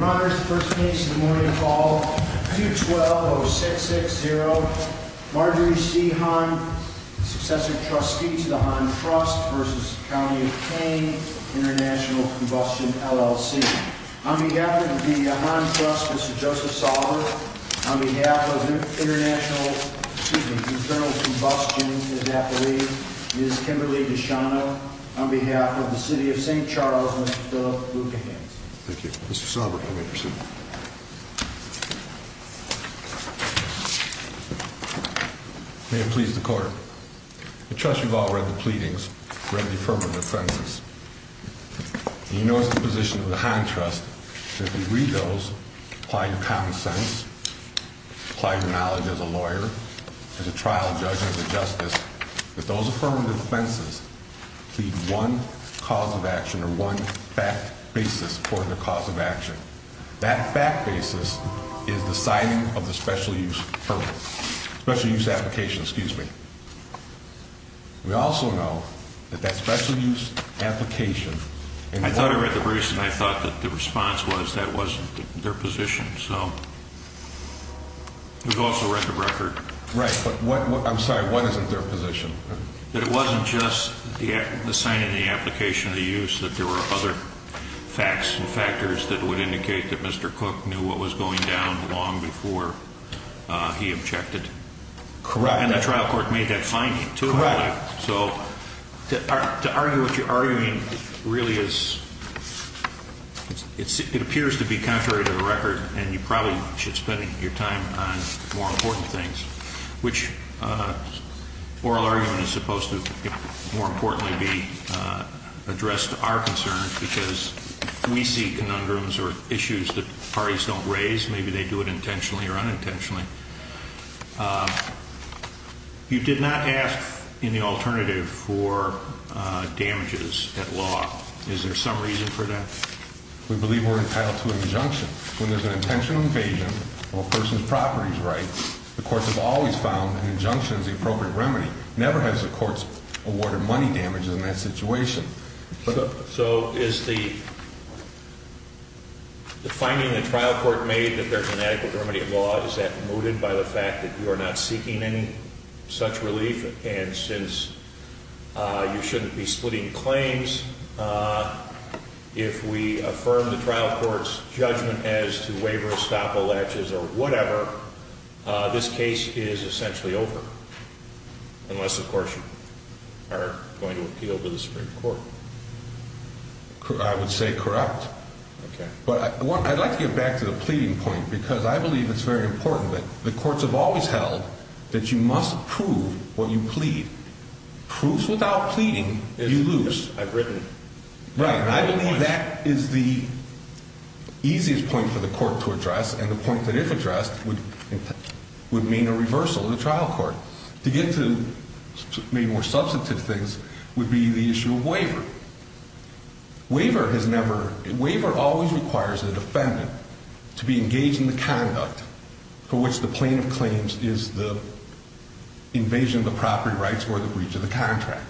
Your honors, first case in the morning, call 212-0660, Marjory C. Hahn, successor trustee to the Hahn Trust v. County of Kane International Combustion, LLC. On behalf of the Hahn Trust, Mr. Joseph Sauber. On behalf of the International, excuse me, Internal Combustion, as I believe, Ms. Kimberly Deschano. On behalf of the city of St. Charles, Mr. Philip Luekehans. Thank you. Mr. Sauber, you may proceed. May it please the court. I trust you've all read the pleadings, read the affirmative defenses. You know it's the position of the Hahn Trust that if you read those, apply your common sense, apply your knowledge as a lawyer, as a trial judge, as a justice, that those affirmative defenses plead one cause of action or one fact basis for the cause of action. That fact basis is the signing of the special use permit, special use application, excuse me. We also know that that special use application. I thought I read the briefs and I thought that the response was that wasn't their position. So we've also read the record. Right. But what I'm sorry, what isn't their position that it wasn't just the signing of the application of the use, that there were other facts and factors that would indicate that Mr. Cook knew what was going down long before he objected. Correct. And the trial court made that finding. Correct. So to argue what you're arguing really is, it appears to be contrary to the record and you probably should spend your time on more important things, which oral argument is supposed to more importantly be addressed to our concerns because we see conundrums or issues that parties don't raise. Maybe they do it intentionally or unintentionally. You did not ask in the alternative for damages at law. Is there some reason for that? We believe we're entitled to an injunction when there's an intentional invasion of a person's properties, right? The courts have always found an injunction is the appropriate remedy. Never has the courts awarded money damages in that situation. So is the finding the trial court made that there's an adequate remedy at law, is that mooted by the fact that you are not seeking any such relief? I would say correct. Okay. But I'd like to get back to the pleading point because I believe it's very important that the courts have always held that you must prove what you believe to be the case. I believe that is the easiest point for the court to address and the point that if addressed would mean a reversal of the trial court. To get to maybe more substantive things would be the issue of waiver. Waiver always requires the defendant to be engaged in the conduct for which the plaintiff claims is the invasion of the property rights or the breach of the contract.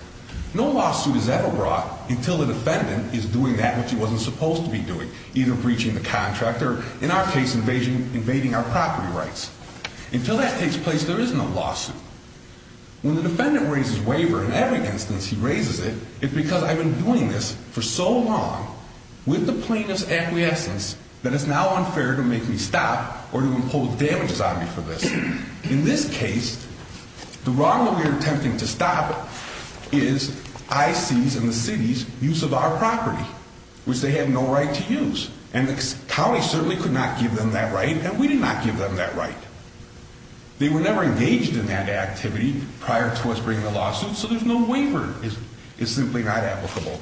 No lawsuit is ever brought until the defendant is doing that which he wasn't supposed to be doing, either breaching the contract or, in our case, invading our property rights. Until that takes place, there is no lawsuit. When the defendant raises waiver, in every instance he raises it, it's because I've been doing this for so long with the plaintiff's acquiescence that it's now unfair to make me stop or to impose damages on me for this. In this case, the wrong that we're attempting to stop is IC's and the city's use of our property, which they have no right to use. And the county certainly could not give them that right, and we did not give them that right. They were never engaged in that activity prior to us bringing the lawsuit, so there's no waiver is simply not applicable.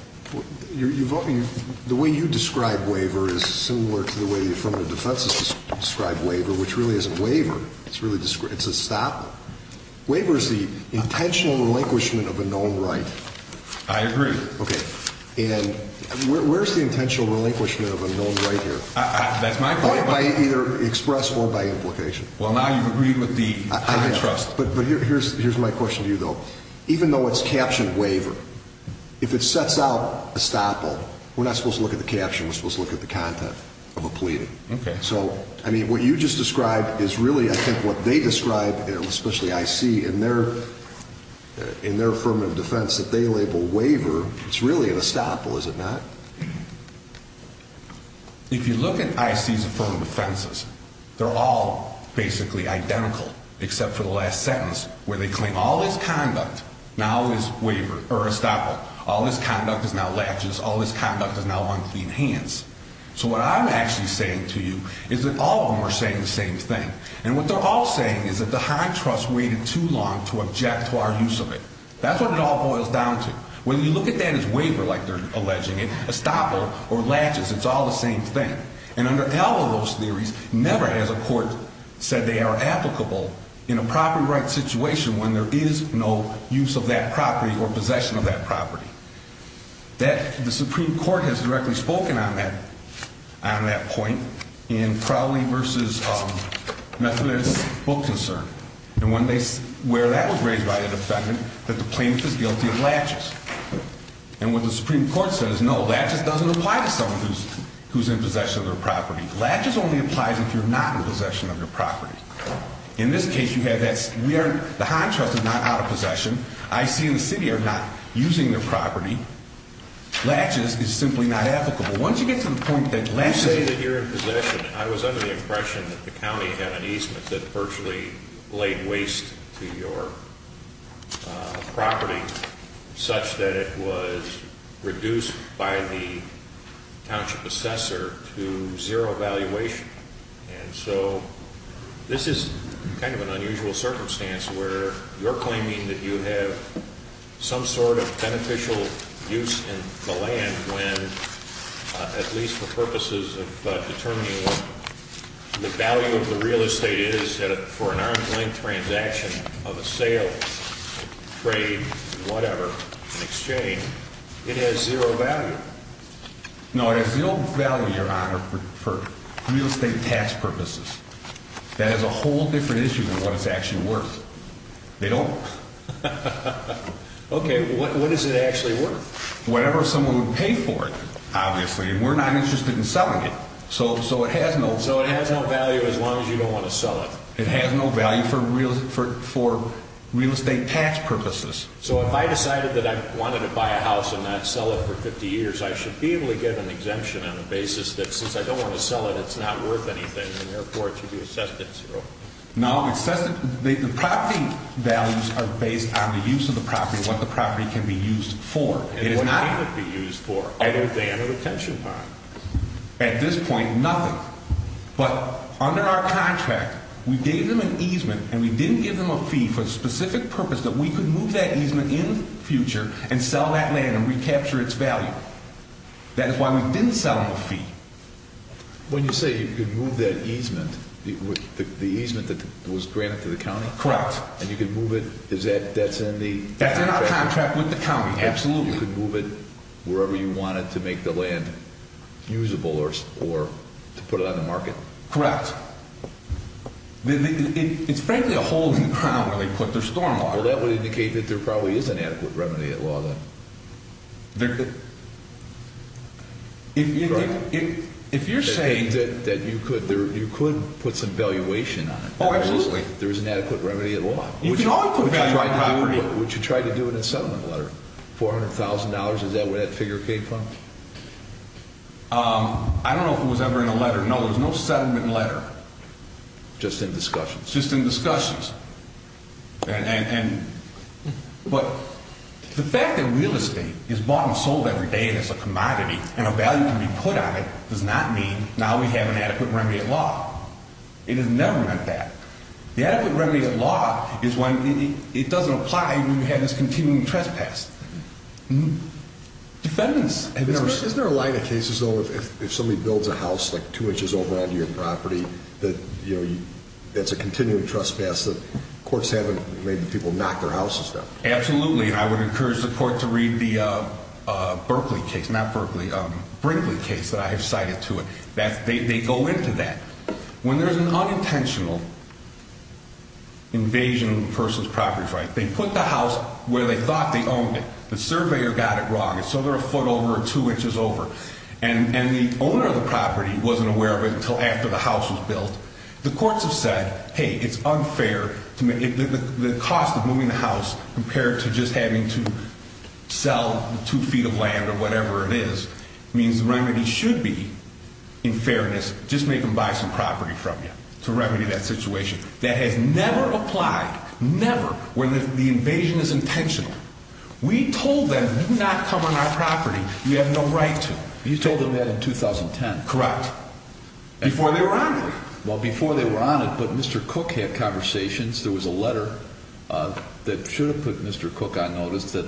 The way you describe waiver is similar to the way the affirmative defense has described waiver, which really isn't waiver. It's a stop. Waiver is the intentional relinquishment of a known right. I agree. Okay. And where's the intentional relinquishment of a known right here? That's my question. Either expressed or by implication. Well, now you've agreed with the trust. But here's my question to you, though. Even though it's captioned waiver, if it sets out estoppel, we're not supposed to look at the caption. We're supposed to look at the content of a pleading. Okay. So, I mean, what you just described is really, I think, what they describe, especially IC, in their affirmative defense that they label waiver, it's really an estoppel, is it not? If you look at IC's affirmative defenses, they're all basically identical except for the last sentence where they claim all this conduct now is waiver, or estoppel. All this conduct is now latches. All this conduct is now unclean hands. So what I'm actually saying to you is that all of them are saying the same thing. And what they're all saying is that the high trust waited too long to object to our use of it. That's what it all boils down to. Whether you look at that as waiver like they're alleging it, estoppel, or latches, it's all the same thing. And under all of those theories, never has a court said they are applicable in a property rights situation when there is no use of that property or possession of that property. The Supreme Court has directly spoken on that point in Crowley v. Methodist Book Concern. And where that was raised by the defendant, that the plaintiff is guilty of latches. And what the Supreme Court says, no, latches doesn't apply to someone who's in possession of their property. Latches only applies if you're not in possession of your property. In this case, you have that, we are, the high trust is not out of possession. I see in the city are not using their property. Latches is simply not applicable. Once you get to the point that latches... You say that you're in possession. I was under the impression that the county had an easement that virtually laid waste to your property, such that it was reduced by the township assessor to zero valuation. And so this is kind of an unusual circumstance where you're claiming that you have some sort of beneficial use in the land when, at least for purposes of determining what the value of the real estate is for an arm's length transaction of a sale, trade, whatever, an exchange, it has zero value. No, it has zero value, Your Honor, for real estate tax purposes. That is a whole different issue than what it's actually worth. They don't. Okay, what is it actually worth? Whatever someone would pay for it, obviously. We're not interested in selling it. So it has no value as long as you don't want to sell it. It has no value for real estate tax purposes. So if I decided that I wanted to buy a house and not sell it for 50 years, I should be able to get an exemption on the basis that since I don't want to sell it, it's not worth anything, and therefore it should be assessed at zero. No, the property values are based on the use of the property, what the property can be used for. And what can it be used for? At this point, nothing. But under our contract, we gave them an easement, and we didn't give them a fee for the specific purpose that we could move that easement in the future and sell that land and recapture its value. That is why we didn't sell them a fee. When you say you could move that easement, the easement that was granted to the county? Correct. And you could move it, that's in the contract? That's in our contract with the county, absolutely. So you could move it wherever you wanted to make the land usable or to put it on the market? Correct. It's frankly a holding ground where they put their stormwater. Well, that would indicate that there probably is an adequate remedy at law, then. If you're saying that you could put some valuation on it. Absolutely. There is an adequate remedy at law. Would you try to do it in a settlement letter? $400,000, is that where that figure came from? I don't know if it was ever in a letter. No, there was no settlement letter. Just in discussions? Just in discussions. But the fact that real estate is bought and sold every day and it's a commodity and a value can be put on it does not mean now we have an adequate remedy at law. It has never meant that. The adequate remedy at law is when it doesn't apply when you have this continuing trespass. Defendants. Isn't there a line of cases, though, if somebody builds a house like two inches over onto your property that's a continuing trespass that courts haven't made the people knock their houses down? Absolutely. I would encourage the court to read the Brinkley case that I have cited to it. They go into that. When there's an unintentional invasion of a person's property right, they put the house where they thought they owned it. The surveyor got it wrong. It's over a foot over or two inches over. And the owner of the property wasn't aware of it until after the house was built. The courts have said, hey, it's unfair. The cost of moving the house compared to just having to sell two feet of land or whatever it is means the remedy should be, in fairness, just make them buy some property from you to remedy that situation. That has never applied. Never. When the invasion is intentional. We told them do not come on our property. You have no right to. You told them that in 2010. Correct. Before they were on it. Well, before they were on it, but Mr. Cook had conversations. There was a letter that should have put Mr. Cook on notice that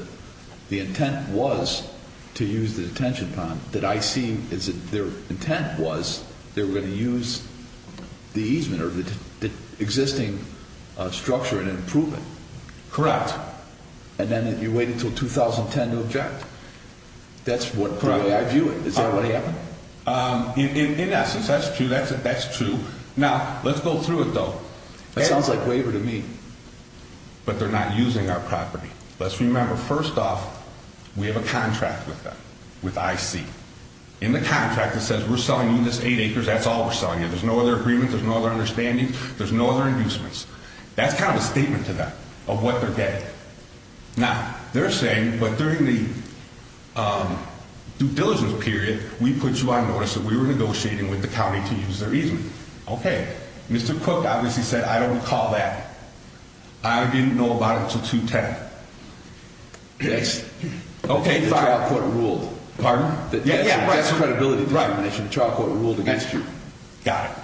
the intent was to use the detention pond. That I see is that their intent was they were going to use the easement or the existing structure and improve it. Correct. And then you wait until 2010 to object. That's what I view it. Is that what happened? In essence, that's true. Now, let's go through it, though. That sounds like waiver to me. But they're not using our property. Let's remember, first off, we have a contract with them, with IC. In the contract, it says we're selling you this eight acres. That's all we're selling you. There's no other agreement. There's no other understanding. There's no other inducements. That's kind of a statement to them of what they're getting. Now, they're saying, but during the due diligence period, we put you on notice that we were negotiating with the county to use their easement. Okay. Mr. Cook obviously said, I don't recall that. I didn't know about it until 2010. Yes. Okay, fine. The trial court ruled. Pardon? That's credibility determination. The trial court ruled against you. Got it.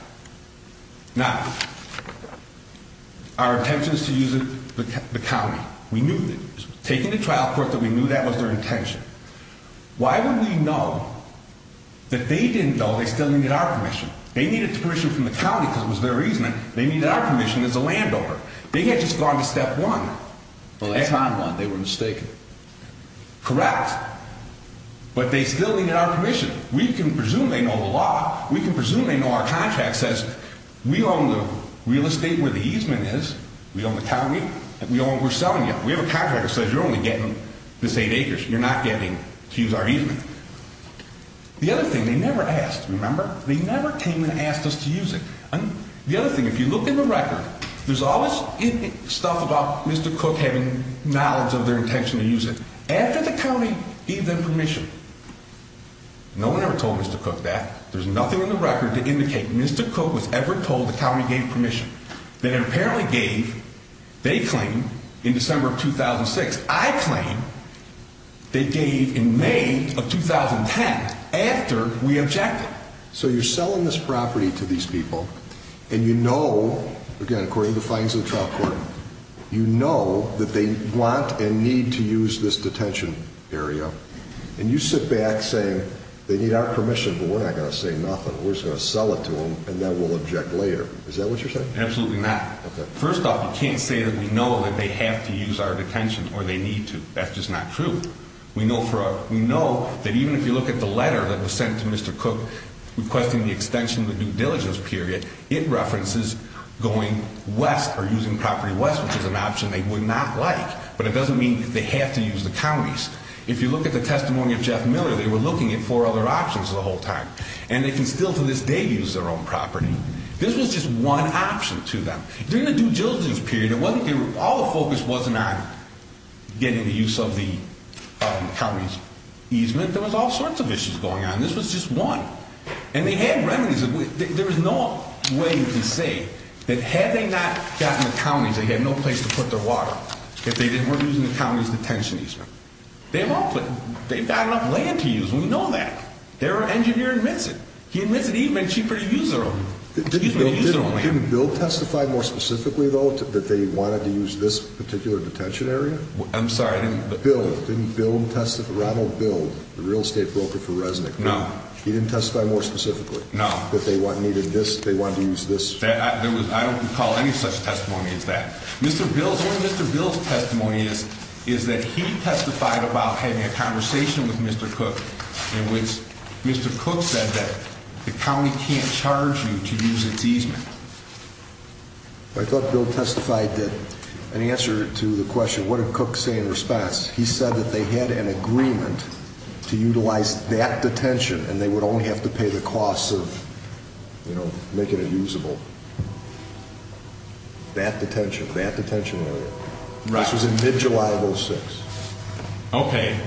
Now, our intention is to use the county. We knew that. Taking the trial court that we knew that was their intention. Why would we know that they didn't know they still needed our permission? They needed the permission from the county because it was their easement. They needed our permission as a landowner. They had just gone to step one. Well, it's not one. They were mistaken. Correct. But they still needed our permission. We can presume they know the law. We can presume they know our contract says we own the real estate where the easement is. We own the county. We're selling it. We have a contract that says you're only getting this eight acres. You're not getting to use our easement. The other thing, they never asked, remember? They never came and asked us to use it. The other thing, if you look in the record, there's all this stuff about Mr. Cook having knowledge of their intention to use it. After the county gave them permission, no one ever told Mr. Cook that. There's nothing in the record to indicate Mr. Cook was ever told the county gave permission. That it apparently gave, they claim, in December of 2006. I claim they gave in May of 2010 after we objected. So you're selling this property to these people, and you know, again, according to the fines of the trial court, you know that they want and need to use this detention area. And you sit back saying they need our permission, but we're not going to say nothing. We're just going to sell it to them, and then we'll object later. Is that what you're saying? Absolutely not. First off, you can't say that we know that they have to use our detention or they need to. That's just not true. We know that even if you look at the letter that was sent to Mr. Cook requesting the extension of the due diligence period, it references going west or using property west, which is an option they would not like. But it doesn't mean they have to use the counties. If you look at the testimony of Jeff Miller, they were looking at four other options the whole time. And they can still to this day use their own property. This was just one option to them. During the due diligence period, all the focus wasn't on getting the use of the counties easement. There was all sorts of issues going on. This was just one. And they had remedies. There was no way to say that had they not gotten the counties, they had no place to put their water, if they weren't using the county's detention easement. They've got enough land to use. We know that. Their engineer admits it. He admits it even cheaper to use their own land. Didn't Bill testify more specifically, though, that they wanted to use this particular detention area? I'm sorry. Bill, didn't Bill testify? Ronald Bill, the real estate broker for Resnick. No. He didn't testify more specifically? No. That they needed this, they wanted to use this? I don't recall any such testimony as that. Mr. Bill's testimony is that he testified about having a conversation with Mr. Cook in which Mr. Cook said that the county can't charge you to use its easement. I thought Bill testified that in answer to the question, what did Cook say in response, he said that they had an agreement to utilize that detention and they would only have to pay the costs of making it usable. That detention, that detention area. This was in mid-July of 2006. Okay.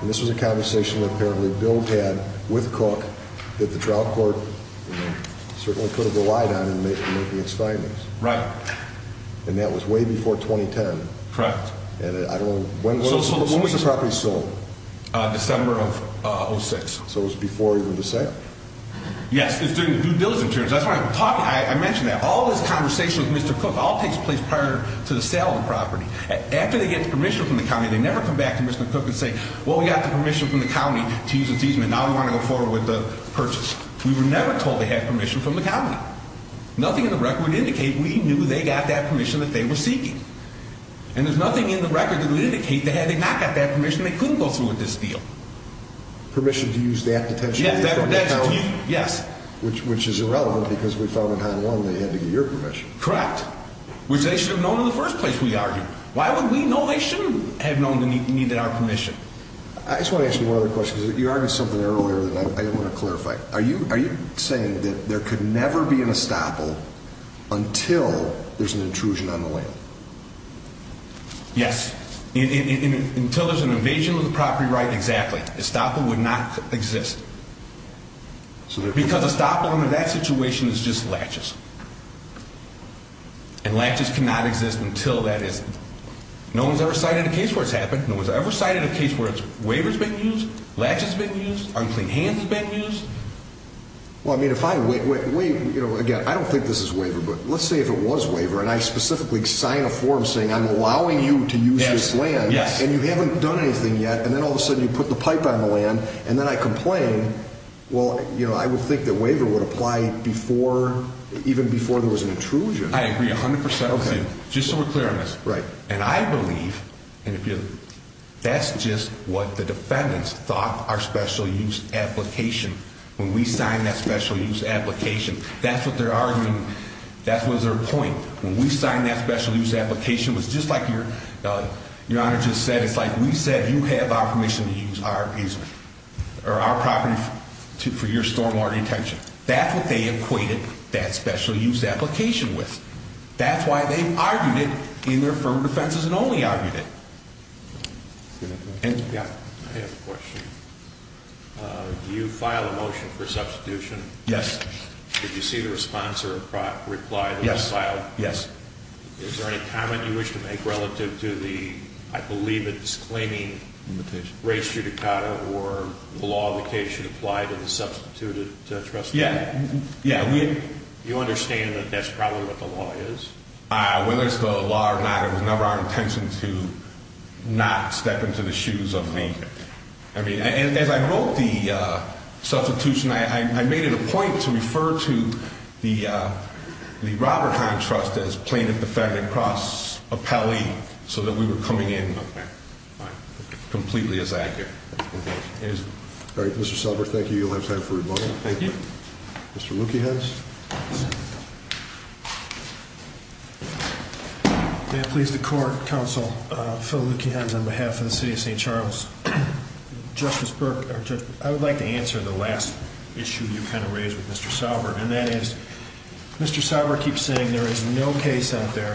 And this was a conversation that apparently Bill had with Cook that the trial court certainly could have relied on in making its findings. Right. And that was way before 2010. Correct. When was the property sold? December of 2006. So it was before he went to sale? Yes, it's during the due diligence period. That's why I'm talking. I mentioned that. All this conversation with Mr. Cook all takes place prior to the sale of the property. After they get permission from the county, they never come back to Mr. Cook and say, well, we got the permission from the county to use the easement, now we want to go forward with the purchase. We were never told they had permission from the county. Nothing in the record would indicate we knew they got that permission that they were seeking. And there's nothing in the record that would indicate that had they not got that permission, they couldn't go through with this deal. Permission to use that detention area from the county? Yes. Which is irrelevant because we found in Hon. 1 they had to get your permission. Correct. Which they should have known in the first place, we argue. Why would we know they shouldn't have known they needed our permission? I just want to ask you one other question. You argued something earlier that I didn't want to clarify. Are you saying that there could never be an estoppel until there's an intrusion on the land? Yes. Until there's an invasion of the property right, exactly. Estoppel would not exist. Because estoppel under that situation is just latches. And latches cannot exist until that is. No one's ever cited a case where it's happened. No one's ever cited a case where a waiver's been used, latches have been used, unclean hands have been used. Well, I mean, again, I don't think this is waiver, but let's say if it was waiver, and I specifically sign a form saying I'm allowing you to use this land, and you haven't done anything yet, and then all of a sudden you put the pipe on the land, and then I complain, well, you know, I would think that waiver would apply even before there was an intrusion. I agree 100% with you. Okay. Just so we're clear on this. Right. And I believe, and if you, that's just what the defendants thought our special use application, when we signed that special use application, that's what they're arguing, that was their point. When we signed that special use application, it was just like your Honor just said, it's like we said you have our permission to use our property for your stormwater detention. That's what they equated that special use application with. That's why they argued it in their firm defenses and only argued it. I have a question. Do you file a motion for substitution? Yes. Did you see the response or reply that was filed? Yes. Is there any comment you wish to make relative to the, I believe, a disclaiming race judicata or the law of the case should apply to the substituted trustee? Yeah. You understand that that's probably what the law is? Whether it's the law or not, it was never our intention to not step into the shoes of the, I mean, as I wrote the substitution, I made it a point to refer to the Robert Heinz Trust as plaintiff, defendant, cross, appellee, so that we were coming in completely as accurate. All right, Mr. Selber, thank you. You'll have time for rebuttal. Thank you. Mr. Lukiehans. Yes. May it please the court, counsel Phil Lukiehans on behalf of the city of St. Charles. Justice Burke, I would like to answer the last issue you kind of raised with Mr. Selber, and that is Mr. Selber keeps saying there is no case out there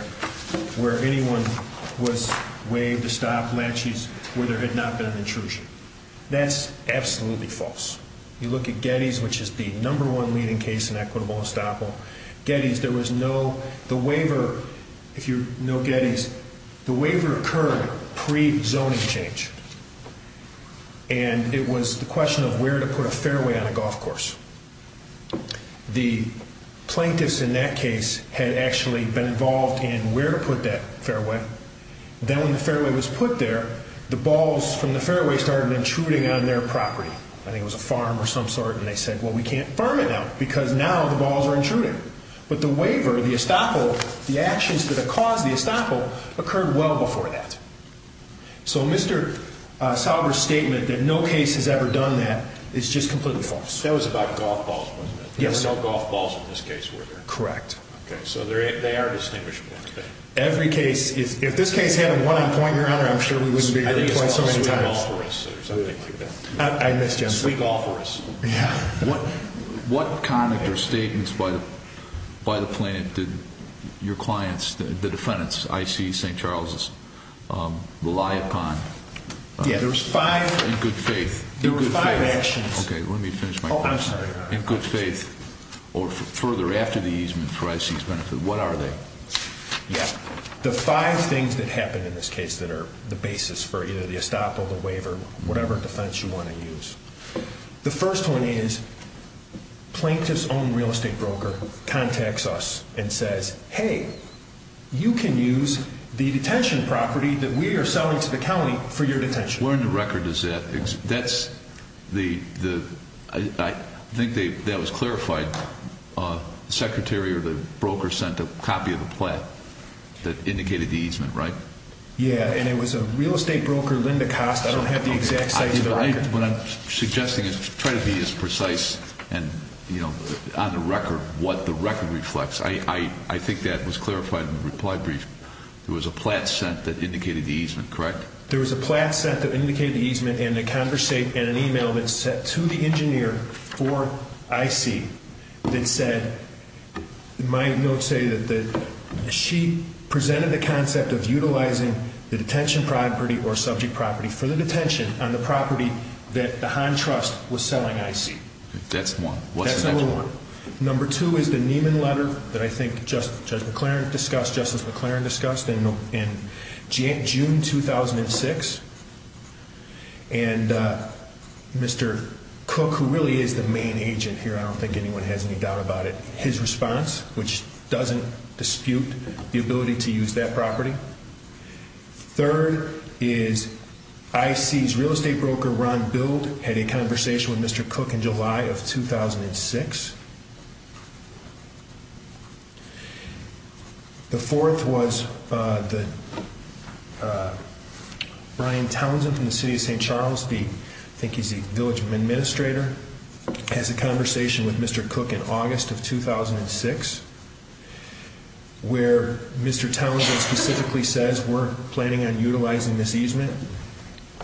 where anyone was waived to stop laches where there had not been an intrusion. That's absolutely false. You look at Getty's, which is the number one leading case in equitable estoppel. Getty's, there was no, the waiver, if you know Getty's, the waiver occurred pre-zoning change. And it was the question of where to put a fairway on a golf course. The plaintiffs in that case had actually been involved in where to put that fairway. Then when the fairway was put there, the balls from the fairway started intruding on their property. I think it was a farm or some sort. And they said, well, we can't farm it now because now the balls are intruding. But the waiver, the estoppel, the actions to the cause of the estoppel occurred well before that. So Mr. Selber's statement that no case has ever done that is just completely false. That was about golf balls, wasn't it? Yes. No golf balls in this case were there. Correct. Okay. So they are distinguishable. Every case is, if this case had a one-on-point, Your Honor, I'm sure we wouldn't be here so many times. I misjudged. We golfers. Yeah. What conduct or statements by the plaintiff did your clients, the defendants, IC St. Charles's, rely upon? Yeah, there was five. In good faith. There were five actions. Okay, let me finish my question. Oh, I'm sorry, Your Honor. In good faith or further after the easement for IC's benefit, what are they? Yeah, the five things that happened in this case that are the basis for either the estoppel, the waiver, whatever defense you want to use. The first one is plaintiff's own real estate broker contacts us and says, Hey, you can use the detention property that we are selling to the county for your detention. Where in the record does that exist? I think that was clarified. The secretary or the broker sent a copy of the plat that indicated the easement, right? Yeah, and it was a real estate broker, Linda Kost. I don't have the exact size of the record. What I'm suggesting is try to be as precise on the record what the record reflects. I think that was clarified in the reply brief. There was a plat sent that indicated the easement, correct? There was a plat sent that indicated the easement and an e-mail that was sent to the engineer for IC that said, my notes say that she presented the concept of utilizing the detention property or subject property for the detention on the property that the Hahn Trust was selling IC. That's one. That's number one. Number two is the Nieman letter that I think Justice McClaren discussed in June 2006. And Mr. Cook, who really is the main agent here, I don't think anyone has any doubt about it, his response, which doesn't dispute the ability to use that property. Third is IC's real estate broker, Ron Bild, had a conversation with Mr. Cook in July of 2006. The fourth was Brian Townsend from the city of St. Charles, I think he's the village administrator, has a conversation with Mr. Cook in August of 2006 where Mr. Townsend specifically says we're planning on utilizing this easement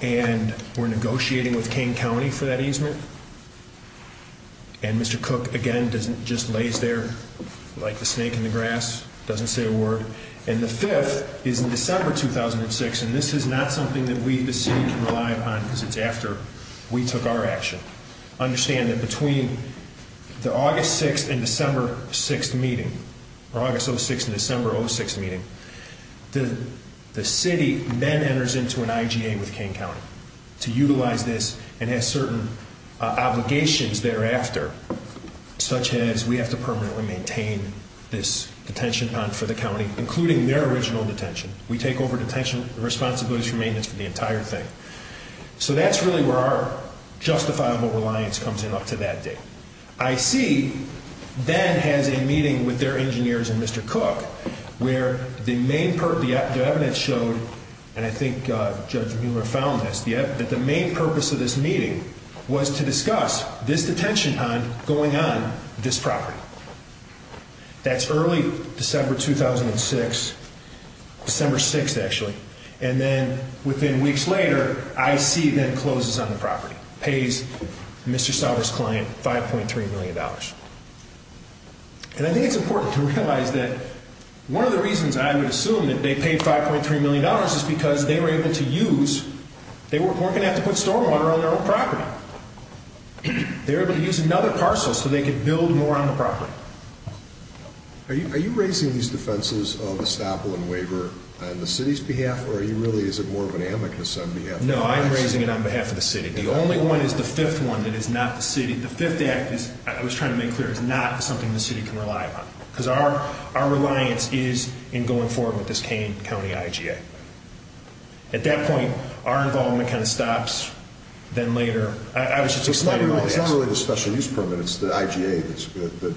and we're negotiating with Kane County for that easement. And Mr. Cook, again, just lays there like the snake in the grass, doesn't say a word. And the fifth is in December 2006, and this is not something that the city can rely upon because it's after we took our action. Understand that between the August 6th and December 6th meeting, or August 06th and December 06th meeting, the city then enters into an IGA with Kane County to utilize this and has certain obligations thereafter, such as we have to permanently maintain this detention pond for the county, including their original detention. We take over detention and responsibilities for maintenance for the entire thing. So that's really where our justifiable reliance comes in up to that date. IC then has a meeting with their engineers and Mr. Cook where the evidence showed, and I think Judge Mueller found this, that the main purpose of this meeting was to discuss this detention pond going on this property. That's early December 2006, December 6th actually. And then within weeks later, IC then closes on the property, pays Mr. Sauer's client $5.3 million. And I think it's important to realize that one of the reasons I would assume that they paid $5.3 million is because they were able to use, they weren't going to have to put stormwater on their own property. They were able to use another parcel so they could build more on the property. Are you raising these defenses of estoppel and waiver on the city's behalf, or are you really, is it more of an amicus on behalf of the city? No, I'm raising it on behalf of the city. The only one is the fifth one that is not the city. The Fifth Act, I was trying to make clear, is not something the city can rely upon. Because our reliance is in going forward with this Kane County IGA. At that point, our involvement kind of stops. Then later, I was just explaining all that. So it's not really the special use permit, it's the IGA that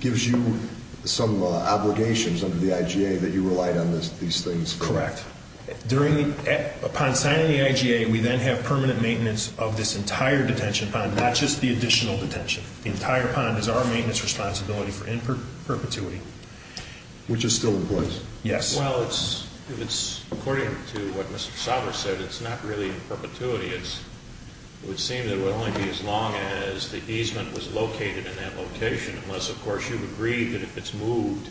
gives you some obligations under the IGA that you relied on these things. Correct. During, upon signing the IGA, we then have permanent maintenance of this entire detention pond, not just the additional detention. The entire pond is our maintenance responsibility for in perpetuity. Which is still in place. Yes. Well, it's, according to what Mr. Sauber said, it's not really in perpetuity. It would seem that it would only be as long as the easement was located in that location. Unless, of course, you've agreed that if it's moved,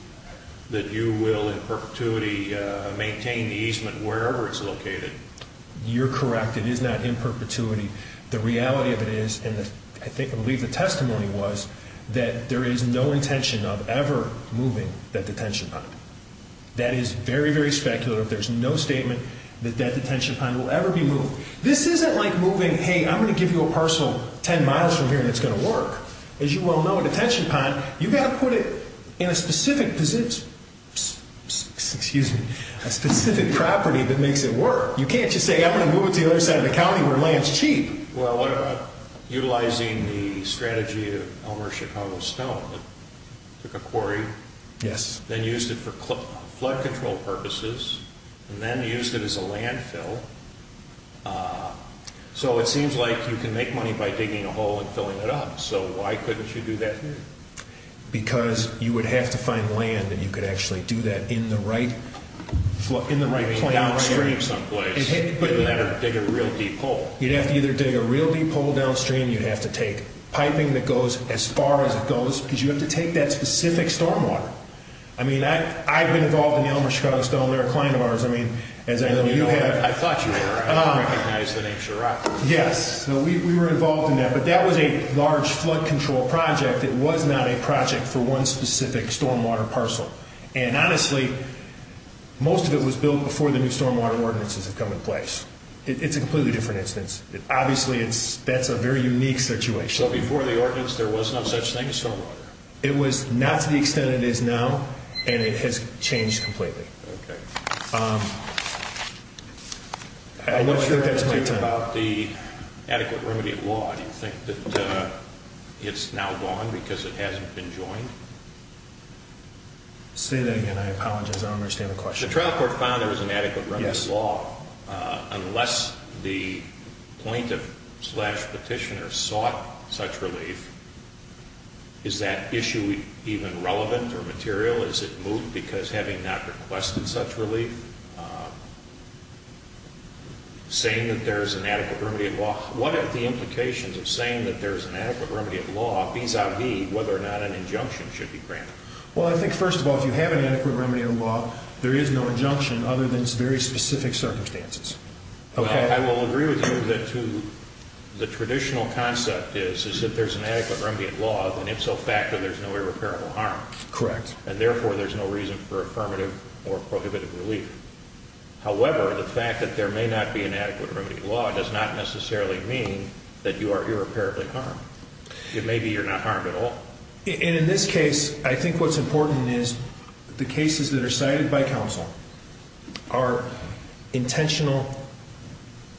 that you will in perpetuity maintain the easement wherever it's located. You're correct. It is not in perpetuity. The reality of it is, and I believe the testimony was, that there is no intention of ever moving that detention pond. That is very, very speculative. There's no statement that that detention pond will ever be moved. This isn't like moving, hey, I'm going to give you a parcel ten miles from here and it's going to work. As you well know, a detention pond, you've got to put it in a specific position, excuse me, a specific property that makes it work. You can't just say, I'm going to move it to the other side of the county where land is cheap. Well, what about utilizing the strategy of Elmer Chicago Stone that took a quarry, then used it for flood control purposes, and then used it as a landfill. So it seems like you can make money by digging a hole and filling it up. So why couldn't you do that here? Because you would have to find land that you could actually do that in the right plain downstream. You'd have to dig a real deep hole. You'd have to either dig a real deep hole downstream, you'd have to take piping that goes as far as it goes, because you have to take that specific stormwater. I mean, I've been involved in the Elmer Chicago Stone. They're a client of ours. I mean, as I know you have. I thought you were. I didn't recognize the name Chirac. Yes. We were involved in that. But that was a large flood control project. It was not a project for one specific stormwater parcel. And honestly, most of it was built before the new stormwater ordinances had come into place. It's a completely different instance. Obviously, that's a very unique situation. So before the ordinance, there was no such thing as stormwater? It was not to the extent it is now, and it has changed completely. Okay. I'm not sure if that's my time. What do you think about the adequate remedy of law? Do you think that it's now gone because it hasn't been joined? Say that again. I apologize. I don't understand the question. The trial court found there was an adequate remedy of law. Yes. Unless the plaintiff slash petitioner sought such relief, is that issue even relevant or material? Is it moot because having not requested such relief? If you're saying that there's an adequate remedy of law, what are the implications of saying that there's an adequate remedy of law vis-a-vis whether or not an injunction should be granted? Well, I think, first of all, if you have an adequate remedy of law, there is no injunction other than very specific circumstances. Okay. I will agree with you that the traditional concept is that if there's an adequate remedy of law, then if so factored, there's no irreparable harm. Correct. And, therefore, there's no reason for affirmative or prohibitive relief. However, the fact that there may not be an adequate remedy of law does not necessarily mean that you are irreparably harmed. It may be you're not harmed at all. And in this case, I think what's important is the cases that are cited by counsel are intentional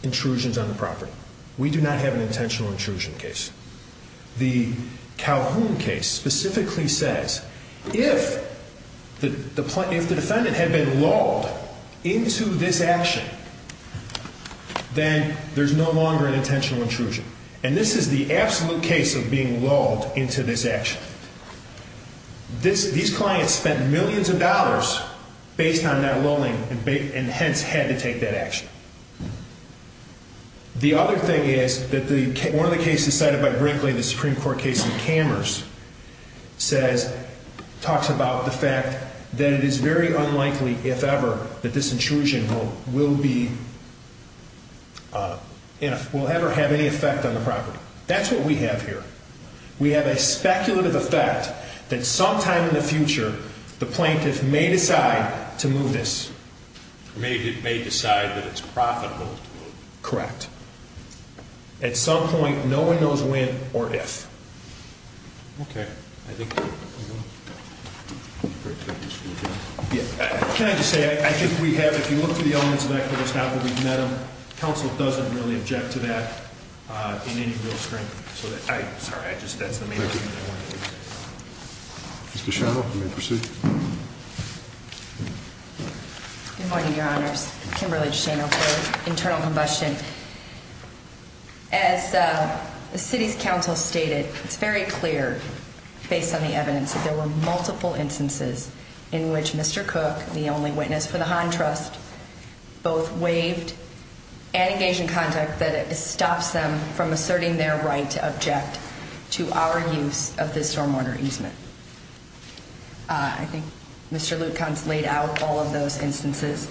intrusions on the property. We do not have an intentional intrusion case. The Calhoun case specifically says, if the defendant had been lulled into this action, then there's no longer an intentional intrusion. And this is the absolute case of being lulled into this action. These clients spent millions of dollars based on that lulling and, hence, had to take that action. The other thing is that one of the cases cited by Brinkley, the Supreme Court case in Kammers, talks about the fact that it is very unlikely, if ever, that this intrusion will ever have any effect on the property. That's what we have here. We have a speculative effect that sometime in the future, the plaintiff may decide to move this. They may decide that it's profitable to move. Correct. At some point, no one knows when or if. Okay. Can I just say, I think we have, if you look through the elements of that case now that we've met them, counsel doesn't really object to that in any real strength. Thank you. Mr. Shano, you may proceed. Good morning, Your Honors. Kimberly Shano for Internal Combustion. As the city's counsel stated, it's very clear, based on the evidence, that there were multiple instances in which Mr. Cook, the only witness for the Hahn Trust, both waived and engaged in conduct that stops them from asserting their right to object to our use of this stormwater easement. I think Mr. Lutkow laid out all of those instances.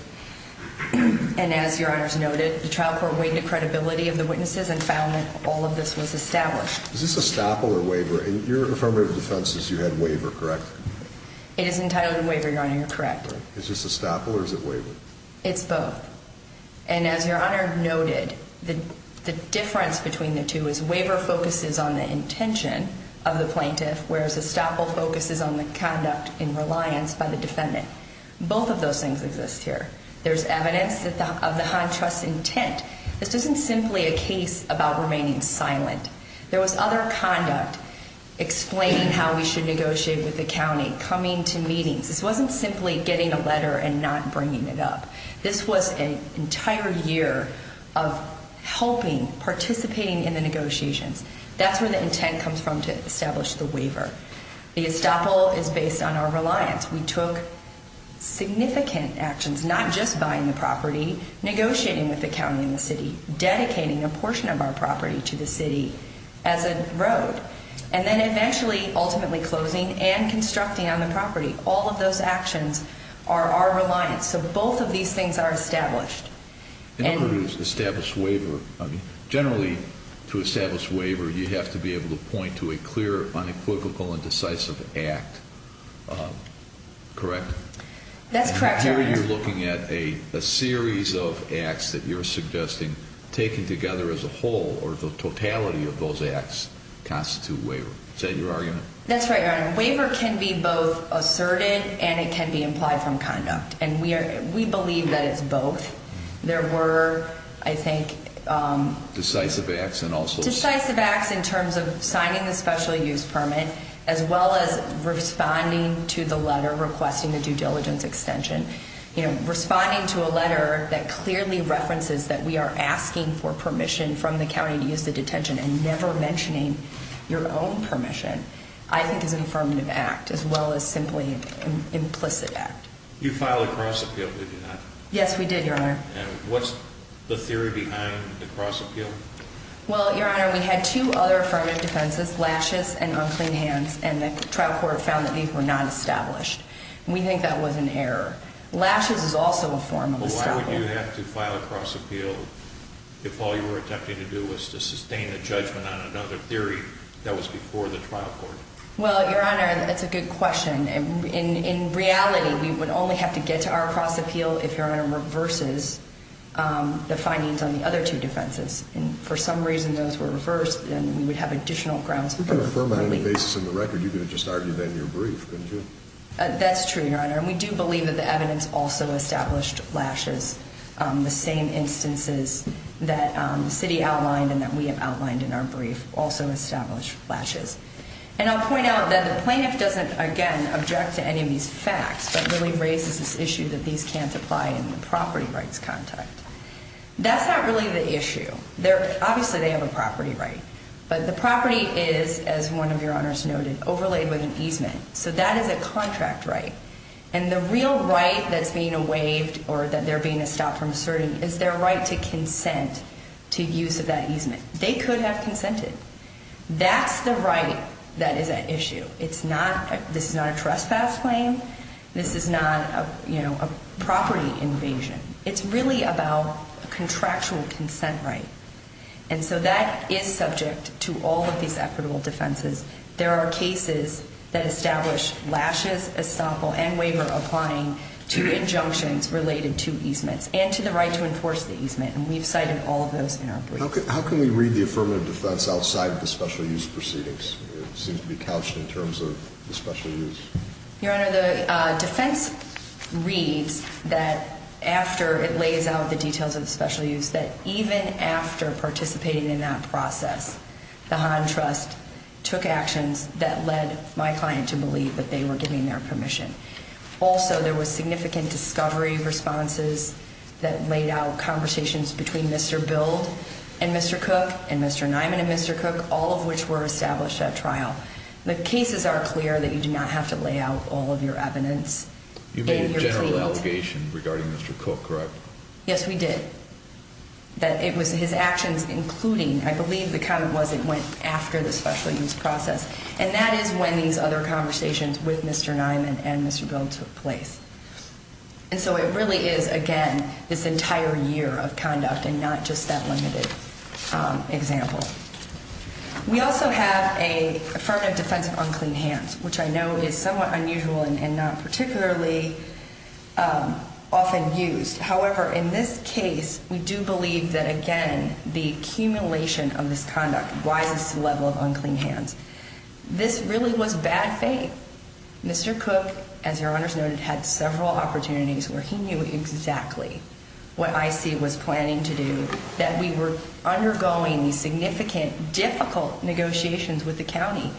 And as Your Honors noted, the trial court weighed the credibility of the witnesses and found that all of this was established. Is this a staple or a waiver? In your affirmative defense, you had waiver, correct? It is entitled to waiver, Your Honor, you're correct. Is this a staple or is it waiver? It's both. And as Your Honor noted, the difference between the two is waiver focuses on the intention of the plaintiff, whereas a staple focuses on the conduct in reliance by the defendant. Both of those things exist here. There's evidence of the Hahn Trust's intent. This isn't simply a case about remaining silent. There was other conduct, explaining how we should negotiate with the county, coming to meetings. This wasn't simply getting a letter and not bringing it up. This was an entire year of helping, participating in the negotiations. That's where the intent comes from to establish the waiver. The estoppel is based on our reliance. We took significant actions, not just buying the property, negotiating with the county and the city, dedicating a portion of our property to the city as a road, and then eventually ultimately closing and constructing on the property. All of those actions are our reliance. Both of these things are established. In order to establish waiver, generally to establish waiver, you have to be able to point to a clear, unequivocal, and decisive act. Correct? That's correct, Your Honor. Here you're looking at a series of acts that you're suggesting, taken together as a whole, or the totality of those acts constitute waiver. Is that your argument? That's right, Your Honor. Waiver can be both asserted and it can be implied from conduct. We believe that it's both. There were, I think, Decisive acts and also Decisive acts in terms of signing the special use permit, as well as responding to the letter requesting the due diligence extension. Responding to a letter that clearly references that we are asking for permission from the county to use the detention and never mentioning your own permission, I think is an affirmative act as well as simply an implicit act. You filed a cross appeal, did you not? Yes, we did, Your Honor. What's the theory behind the cross appeal? Well, Your Honor, we had two other affirmative defenses, Lashes and Unclean Hands, and the trial court found that these were not established. We think that was an error. Lashes is also a form of establishment. Why would you have to file a cross appeal if all you were attempting to do was to sustain a judgment on another theory that was before the trial court? Well, Your Honor, that's a good question. In reality, we would only have to get to our cross appeal if Your Honor reverses the findings on the other two defenses. And if for some reason those were reversed, then we would have additional grounds for refuting. You can affirm on any basis in the record. You could have just argued that in your brief, couldn't you? That's true, Your Honor, and we do believe that the evidence also established Lashes. The same instances that the city outlined and that we have outlined in our brief also established Lashes. And I'll point out that the plaintiff doesn't, again, object to any of these facts but really raises this issue that these can't apply in the property rights context. That's not really the issue. Obviously, they have a property right. But the property is, as one of Your Honors noted, overlaid with an easement. So that is a contract right. And the real right that's being waived or that they're being stopped from asserting is their right to consent to use of that easement. They could have consented. That's the right that is at issue. This is not a trespass claim. This is not a property invasion. It's really about a contractual consent right. And so that is subject to all of these equitable defenses. There are cases that establish Lashes, Estoppel, and Waiver applying to injunctions related to easements and to the right to enforce the easement. And we've cited all of those in our brief. How can we read the affirmative defense outside of the special use proceedings? It seems to be couched in terms of the special use. Your Honor, the defense reads that after it lays out the details of the special use that even after participating in that process, the Hahn Trust took actions that led my client to believe that they were giving their permission. Also, there was significant discovery responses that laid out conversations between Mr. Build and Mr. Cook and Mr. Niman and Mr. Cook, all of which were established at trial. The cases are clear that you do not have to lay out all of your evidence. You made a general allegation regarding Mr. Cook, correct? Yes, we did. That it was his actions, including, I believe the comment was it went after the special use process. And that is when these other conversations with Mr. Niman and Mr. Build took place. And so it really is, again, this entire year of conduct and not just that limited example. We also have an affirmative defense of unclean hands, which I know is somewhat unusual and not particularly often used. However, in this case, we do believe that, again, the accumulation of this conduct rises to the level of unclean hands. This really was bad faith. Mr. Cook, as Your Honor has noted, had several opportunities where he knew exactly what IC was planning to do, that we were undergoing these significant, difficult negotiations with the county.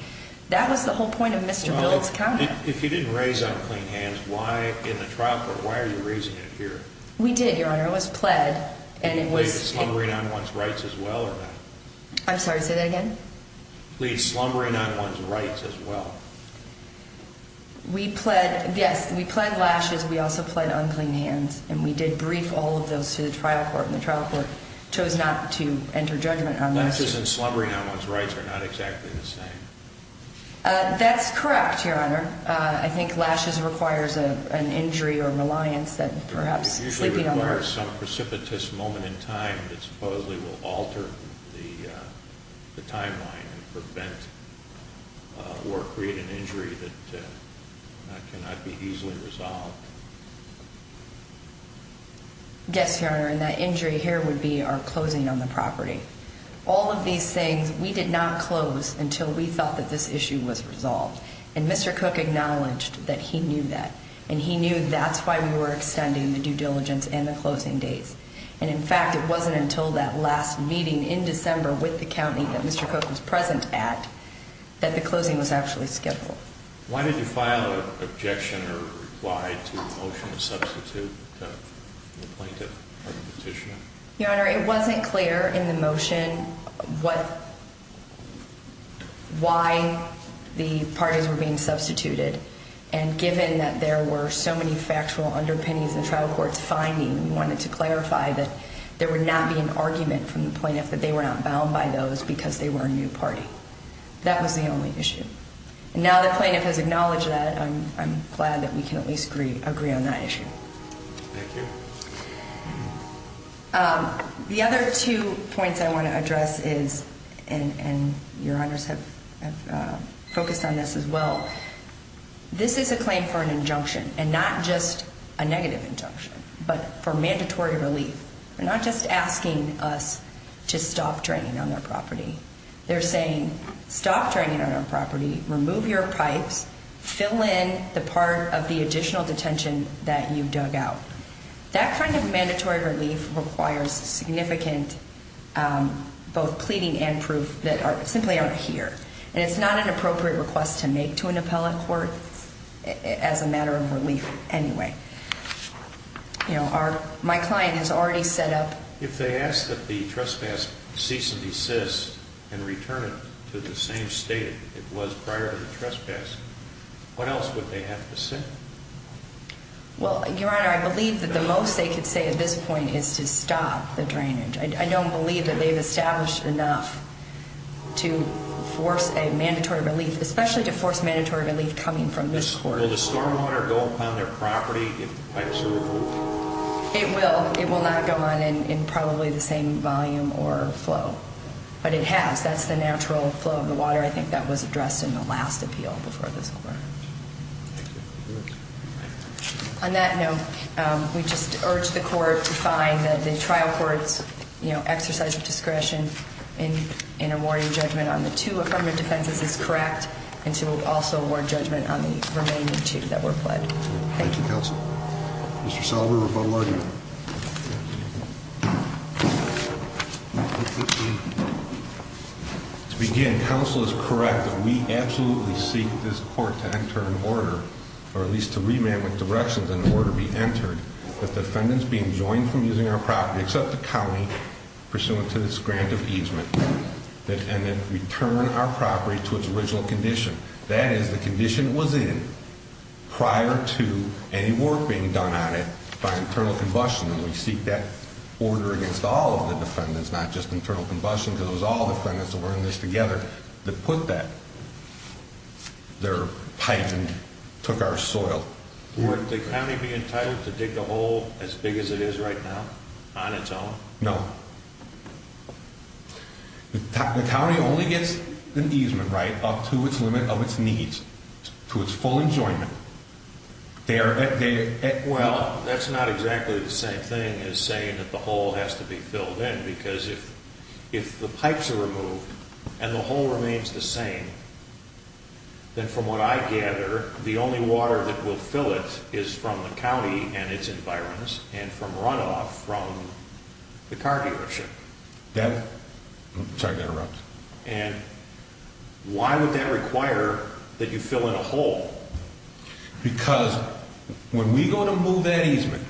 That was the whole point of Mr. Build's comment. If you didn't raise unclean hands in the trial court, why are you raising it here? We did, Your Honor. It was pled. Did you plead slumbering on one's rights as well or not? I'm sorry, say that again? Plead slumbering on one's rights as well. We pled, yes, we pled lashes. We also pled unclean hands. And we did brief all of those to the trial court, and the trial court chose not to enter judgment on those. Lashes and slumbering on one's rights are not exactly the same. That's correct, Your Honor. I think lashes requires an injury or reliance that perhaps sleeping on the heart. It usually requires some precipitous moment in time that supposedly will alter the timeline and prevent or create an injury that cannot be easily resolved. Yes, Your Honor, and that injury here would be our closing on the property. All of these things, we did not close until we thought that this issue was resolved. And Mr. Cook acknowledged that he knew that, and he knew that's why we were extending the due diligence and the closing dates. And, in fact, it wasn't until that last meeting in December with the county that Mr. Cook was present at that the closing was actually scheduled. Why did you file an objection or reply to the motion to substitute the plaintiff for the petitioner? Your Honor, it wasn't clear in the motion why the parties were being substituted. And given that there were so many factual underpinnings in the trial court's finding, we wanted to clarify that there would not be an argument from the plaintiff that they were not bound by those because they were a new party. That was the only issue. Now the plaintiff has acknowledged that, I'm glad that we can at least agree on that issue. Thank you. The other two points I want to address is, and Your Honors have focused on this as well, this is a claim for an injunction, and not just a negative injunction, but for mandatory relief. They're not just asking us to stop draining on their property. They're saying, stop draining on our property, remove your pipes, fill in the part of the additional detention that you dug out. That kind of mandatory relief requires significant both pleading and proof that simply aren't here. And it's not an appropriate request to make to an appellate court as a matter of relief anyway. My client has already set up... If they ask that the trespass cease and desist and return it to the same state it was prior to the trespass, what else would they have to say? Well, Your Honor, I believe that the most they could say at this point is to stop the drainage. I don't believe that they've established enough to force a mandatory relief, especially to force mandatory relief coming from this court. Will the stormwater go upon their property if the pipes are removed? It will. It will not go on in probably the same volume or flow. But it has. That's the natural flow of the water. I think that was addressed in the last appeal before this Court. Thank you. On that note, we just urge the Court to find that the trial court's exercise of discretion in awarding judgment on the two affirmative defenses is correct and to also award judgment on the remaining two that were pled. Thank you, Counsel. Mr. Saliver, rebuttal argument. Thank you. To begin, Counsel is correct that we absolutely seek this Court to enter an order or at least to remand with directions an order be entered that the defendants be enjoined from using our property except the county pursuant to this grant of easement and then return our property to its original condition. That is the condition it was in prior to any work being done on it by internal combustion. And we seek that order against all of the defendants, not just internal combustion, because it was all defendants that were in this together that put their pipe and took our soil. Would the county be entitled to dig a hole as big as it is right now on its own? No. The county only gets an easement right up to its limit of its needs, to its full enjoyment. Well, that's not exactly the same thing as saying that the hole has to be filled in because if the pipes are removed and the hole remains the same, then from what I gather, the only water that will fill it is from the county and its environs and from runoff from the car dealership. Sorry to interrupt. And why would that require that you fill in a hole? Because when we go to move that easement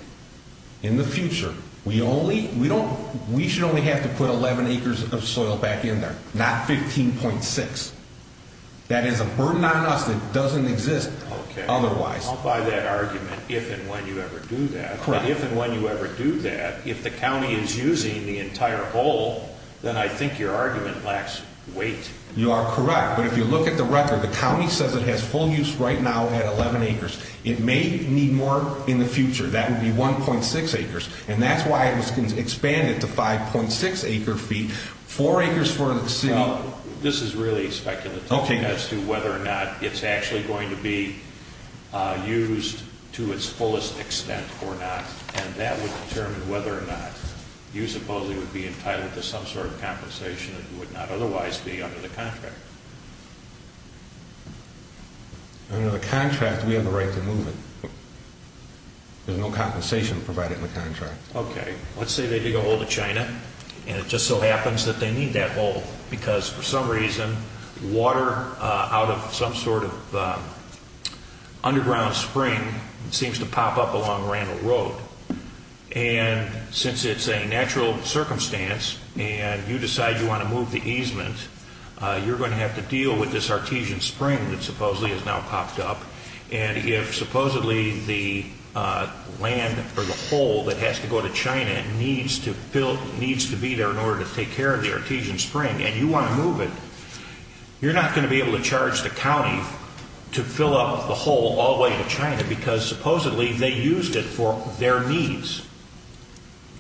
in the future, we should only have to put 11 acres of soil back in there, not 15.6. That is a burden on us that doesn't exist otherwise. I'll buy that argument if and when you ever do that. But if and when you ever do that, if the county is using the entire hole, then I think your argument lacks weight. You are correct. But if you look at the record, the county says it has full use right now at 11 acres. It may need more in the future. That would be 1.6 acres. And that's why it was expanded to 5.6 acre feet, 4 acres for the city. Well, this is really speculative as to whether or not it's actually going to be used to its fullest extent or not, and that would determine whether or not you supposedly would be entitled to some sort of compensation that would not otherwise be under the contract. Under the contract, we have the right to move it. There's no compensation provided in the contract. Okay. Let's say they dig a hole to China, and it just so happens that they need that hole because for some reason water out of some sort of underground spring seems to pop up along Randall Road. And since it's a natural circumstance and you decide you want to move the easement, you're going to have to deal with this artesian spring that supposedly has now popped up. And if supposedly the land or the hole that has to go to China needs to be there in order to take care of the artesian spring and you want to move it, you're not going to be able to charge the county to fill up the hole all the way to China because supposedly they used it for their needs.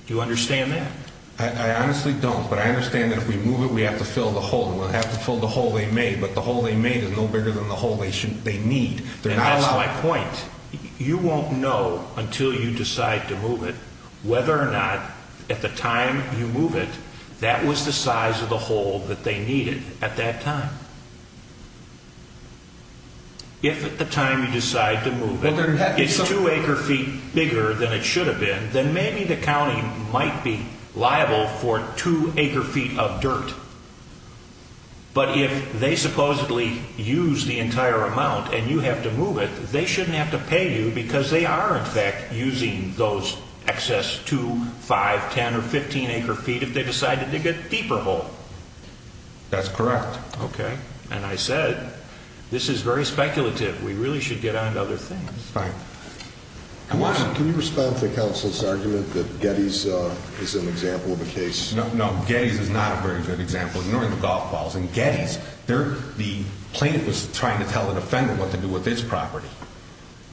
Do you understand that? I honestly don't, but I understand that if we move it, we have to fill the hole. We'll have to fill the hole they made, but the hole they made is no bigger than the hole they need. And that's my point. You won't know until you decide to move it whether or not at the time you move it that was the size of the hole that they needed at that time. If at the time you decide to move it, it's two acre feet bigger than it should have been, then maybe the county might be liable for two acre feet of dirt. But if they supposedly use the entire amount and you have to move it, they shouldn't have to pay you because they are in fact using those excess two, five, ten, or 15 acre feet if they decided to dig a deeper hole. That's correct. Okay. And I said this is very speculative. We really should get on to other things. Right. Can you respond to the counsel's argument that Getty's is an example of a case? No, Getty's is not a very good example, ignoring the golf balls. In Getty's, the plaintiff was trying to tell the defendant what to do with his property.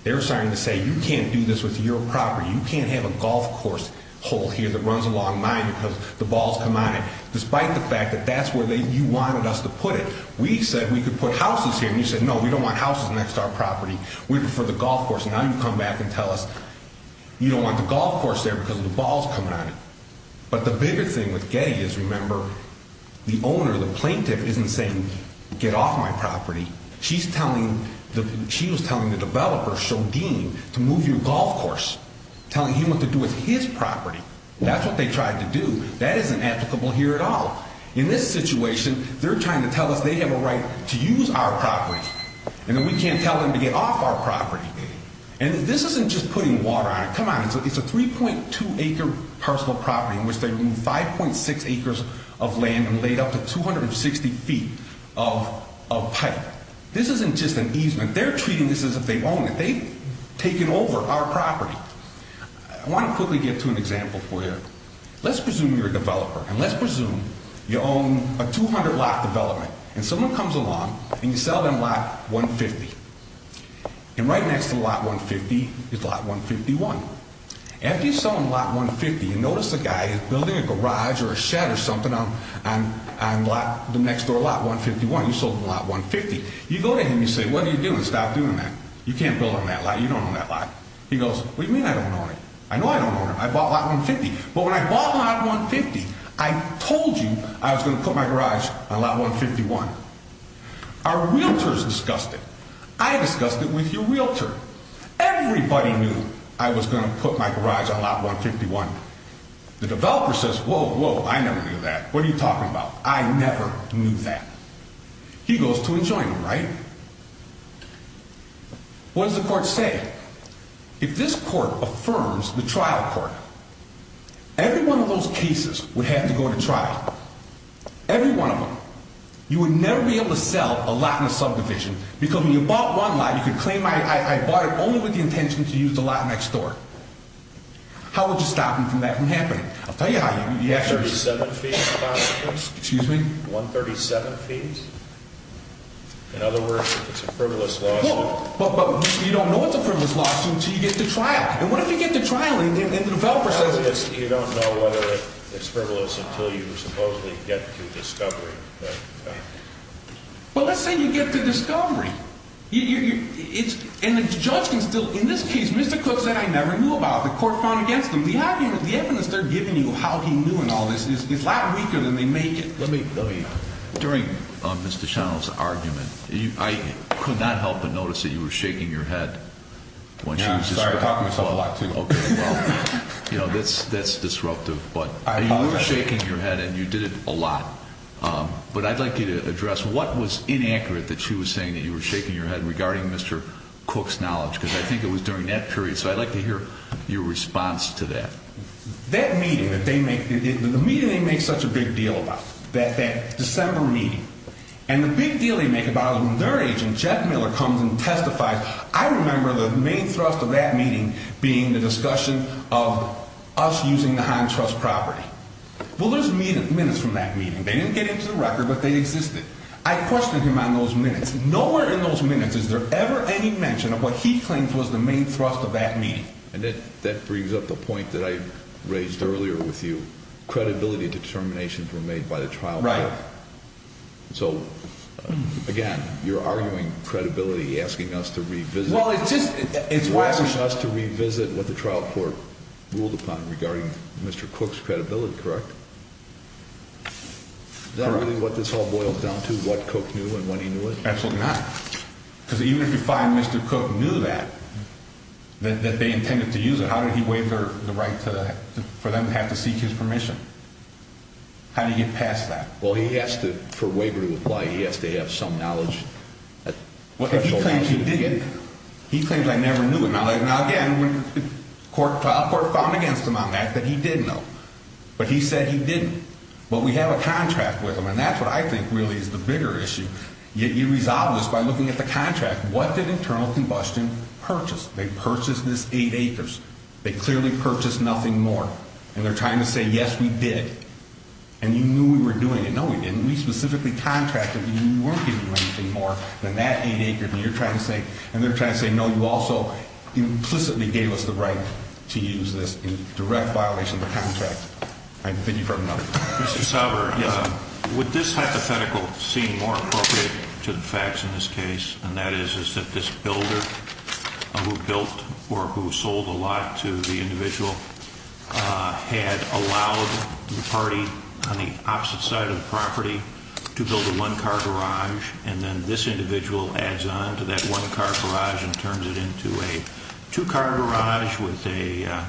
They were starting to say, you can't do this with your property. You can't have a golf course hole here that runs along mine because the balls come on it, despite the fact that that's where you wanted us to put it. We said we could put houses here, and you said, no, we don't want houses next to our property. We prefer the golf course. Now you come back and tell us you don't want the golf course there because of the balls coming on it. But the bigger thing with Getty's, remember, the owner, the plaintiff, isn't saying, get off my property. She's telling, she was telling the developer, Shodin, to move your golf course, telling him what to do with his property. That's what they tried to do. That isn't applicable here at all. In this situation, they're trying to tell us they have a right to use our property, and that we can't tell them to get off our property. And this isn't just putting water on it. Come on. It's a 3.2-acre parcel of property in which they moved 5.6 acres of land and laid up to 260 feet of pipe. This isn't just an easement. They're treating this as if they own it. They've taken over our property. I want to quickly get to an example for you. Let's presume you're a developer, and let's presume you own a 200-lot development, and someone comes along, and you sell them lot 150. And right next to lot 150 is lot 151. After you sell them lot 150, you notice the guy is building a garage or a shed or something on the next door lot, 151. You sold them lot 150. You go to him, you say, what are you doing? Stop doing that. You can't build on that lot. You don't own that lot. He goes, what do you mean I don't own it? I know I don't own it. I bought lot 150. But when I bought lot 150, I told you I was going to put my garage on lot 151. Our realtors discussed it. I discussed it with your realtor. Everybody knew I was going to put my garage on lot 151. The developer says, whoa, whoa, I never knew that. What are you talking about? I never knew that. He goes to enjoin them, right? What does the court say? If this court affirms the trial court, every one of those cases would have to go to trial. Every one of them. You would never be able to sell a lot in a subdivision because when you bought one lot, you could claim I bought it only with the intention to use the lot next door. How would you stop me from that from happening? I'll tell you how. 137 fees? Excuse me? 137 fees? In other words, it's a frivolous lawsuit. But you don't know it's a frivolous lawsuit until you get to trial. And what if you get to trial and the developer says this? You don't know whether it's frivolous until you supposedly get to discovery. But let's say you get to discovery. And the judge can still, in this case, Mr. Cook said I never knew about it. The court found against him. The evidence they're giving you of how he knew and all this is a lot weaker than they make it. During Mr. Shano's argument, I could not help but notice that you were shaking your head. Sorry, I talk to myself a lot, too. That's disruptive. But you were shaking your head and you did it a lot. But I'd like you to address what was inaccurate that she was saying that you were shaking your head regarding Mr. Cook's knowledge. Because I think it was during that period. So I'd like to hear your response to that. That meeting that they make, the meeting they make such a big deal about, that December meeting. And the big deal they make about it is when their agent, Jeff Miller, comes and testifies, I remember the main thrust of that meeting being the discussion of us using the high-trust property. Well, there's minutes from that meeting. They didn't get into the record, but they existed. I questioned him on those minutes. Nowhere in those minutes is there ever any mention of what he claims was the main thrust of that meeting. And that brings up the point that I raised earlier with you. Credibility determinations were made by the trial court. Right. So, again, you're arguing credibility, asking us to revisit. Well, it's just. You're asking us to revisit what the trial court ruled upon regarding Mr. Cook's credibility, correct? Is that really what this all boils down to, what Cook knew and when he knew it? Absolutely not. Because even if you find Mr. Cook knew that, that they intended to use it, how did he waive the right for them to have to seek his permission? How do you get past that? Well, he has to, for waiver to apply, he has to have some knowledge. Well, if he claims he did, he claims I never knew him. Now, again, the trial court found against him on that, that he did know. But he said he didn't. But we have a contract with him, and that's what I think really is the bigger issue. You resolve this by looking at the contract. What did Internal Combustion purchase? They purchased this eight acres. They clearly purchased nothing more. And they're trying to say, yes, we did. And you knew we were doing it. No, we didn't. We specifically contracted that you weren't going to do anything more than that eight acres. And you're trying to say. And they're trying to say, no, you also implicitly gave us the right to use this in direct violation of the contract. I think you've heard enough. Mr. Sauber. Yes, sir. Would this hypothetical seem more appropriate to the facts in this case, and that is, is that this builder who built or who sold a lot to the individual had allowed the party on the opposite side of the property to build a one-car garage, and then this individual adds on to that one-car garage and turns it into a two-car garage with a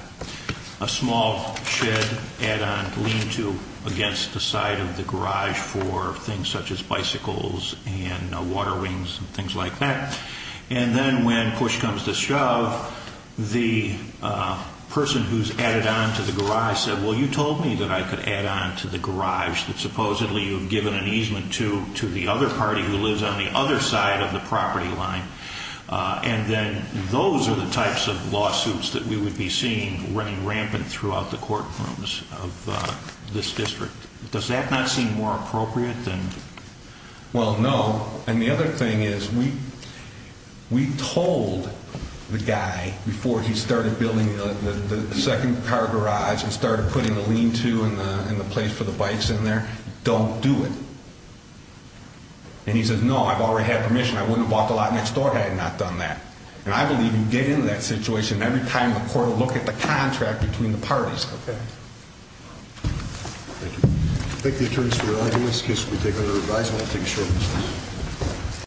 small shed add-on to lean to against the side of the garage for things such as bicycles and water wings and things like that. And then when push comes to shove, the person who's added on to the garage said, well, you told me that I could add on to the garage that supposedly you have given an easement to to the other party who lives on the other side of the property line. And then those are the types of lawsuits that we would be seeing running rampant throughout the courtrooms of this district. Does that not seem more appropriate than... Well, no. And the other thing is we told the guy before he started building the second car garage and started putting the lean-to and the place for the bikes in there, don't do it. And he says, no, I've already had permission. I wouldn't have walked a lot next door had I not done that. And I believe you get into that situation every time the court will look at the contract between the parties. Thank you. I thank the attorneys for their honesty. This case will be taken under revisal. I'll take a short recess.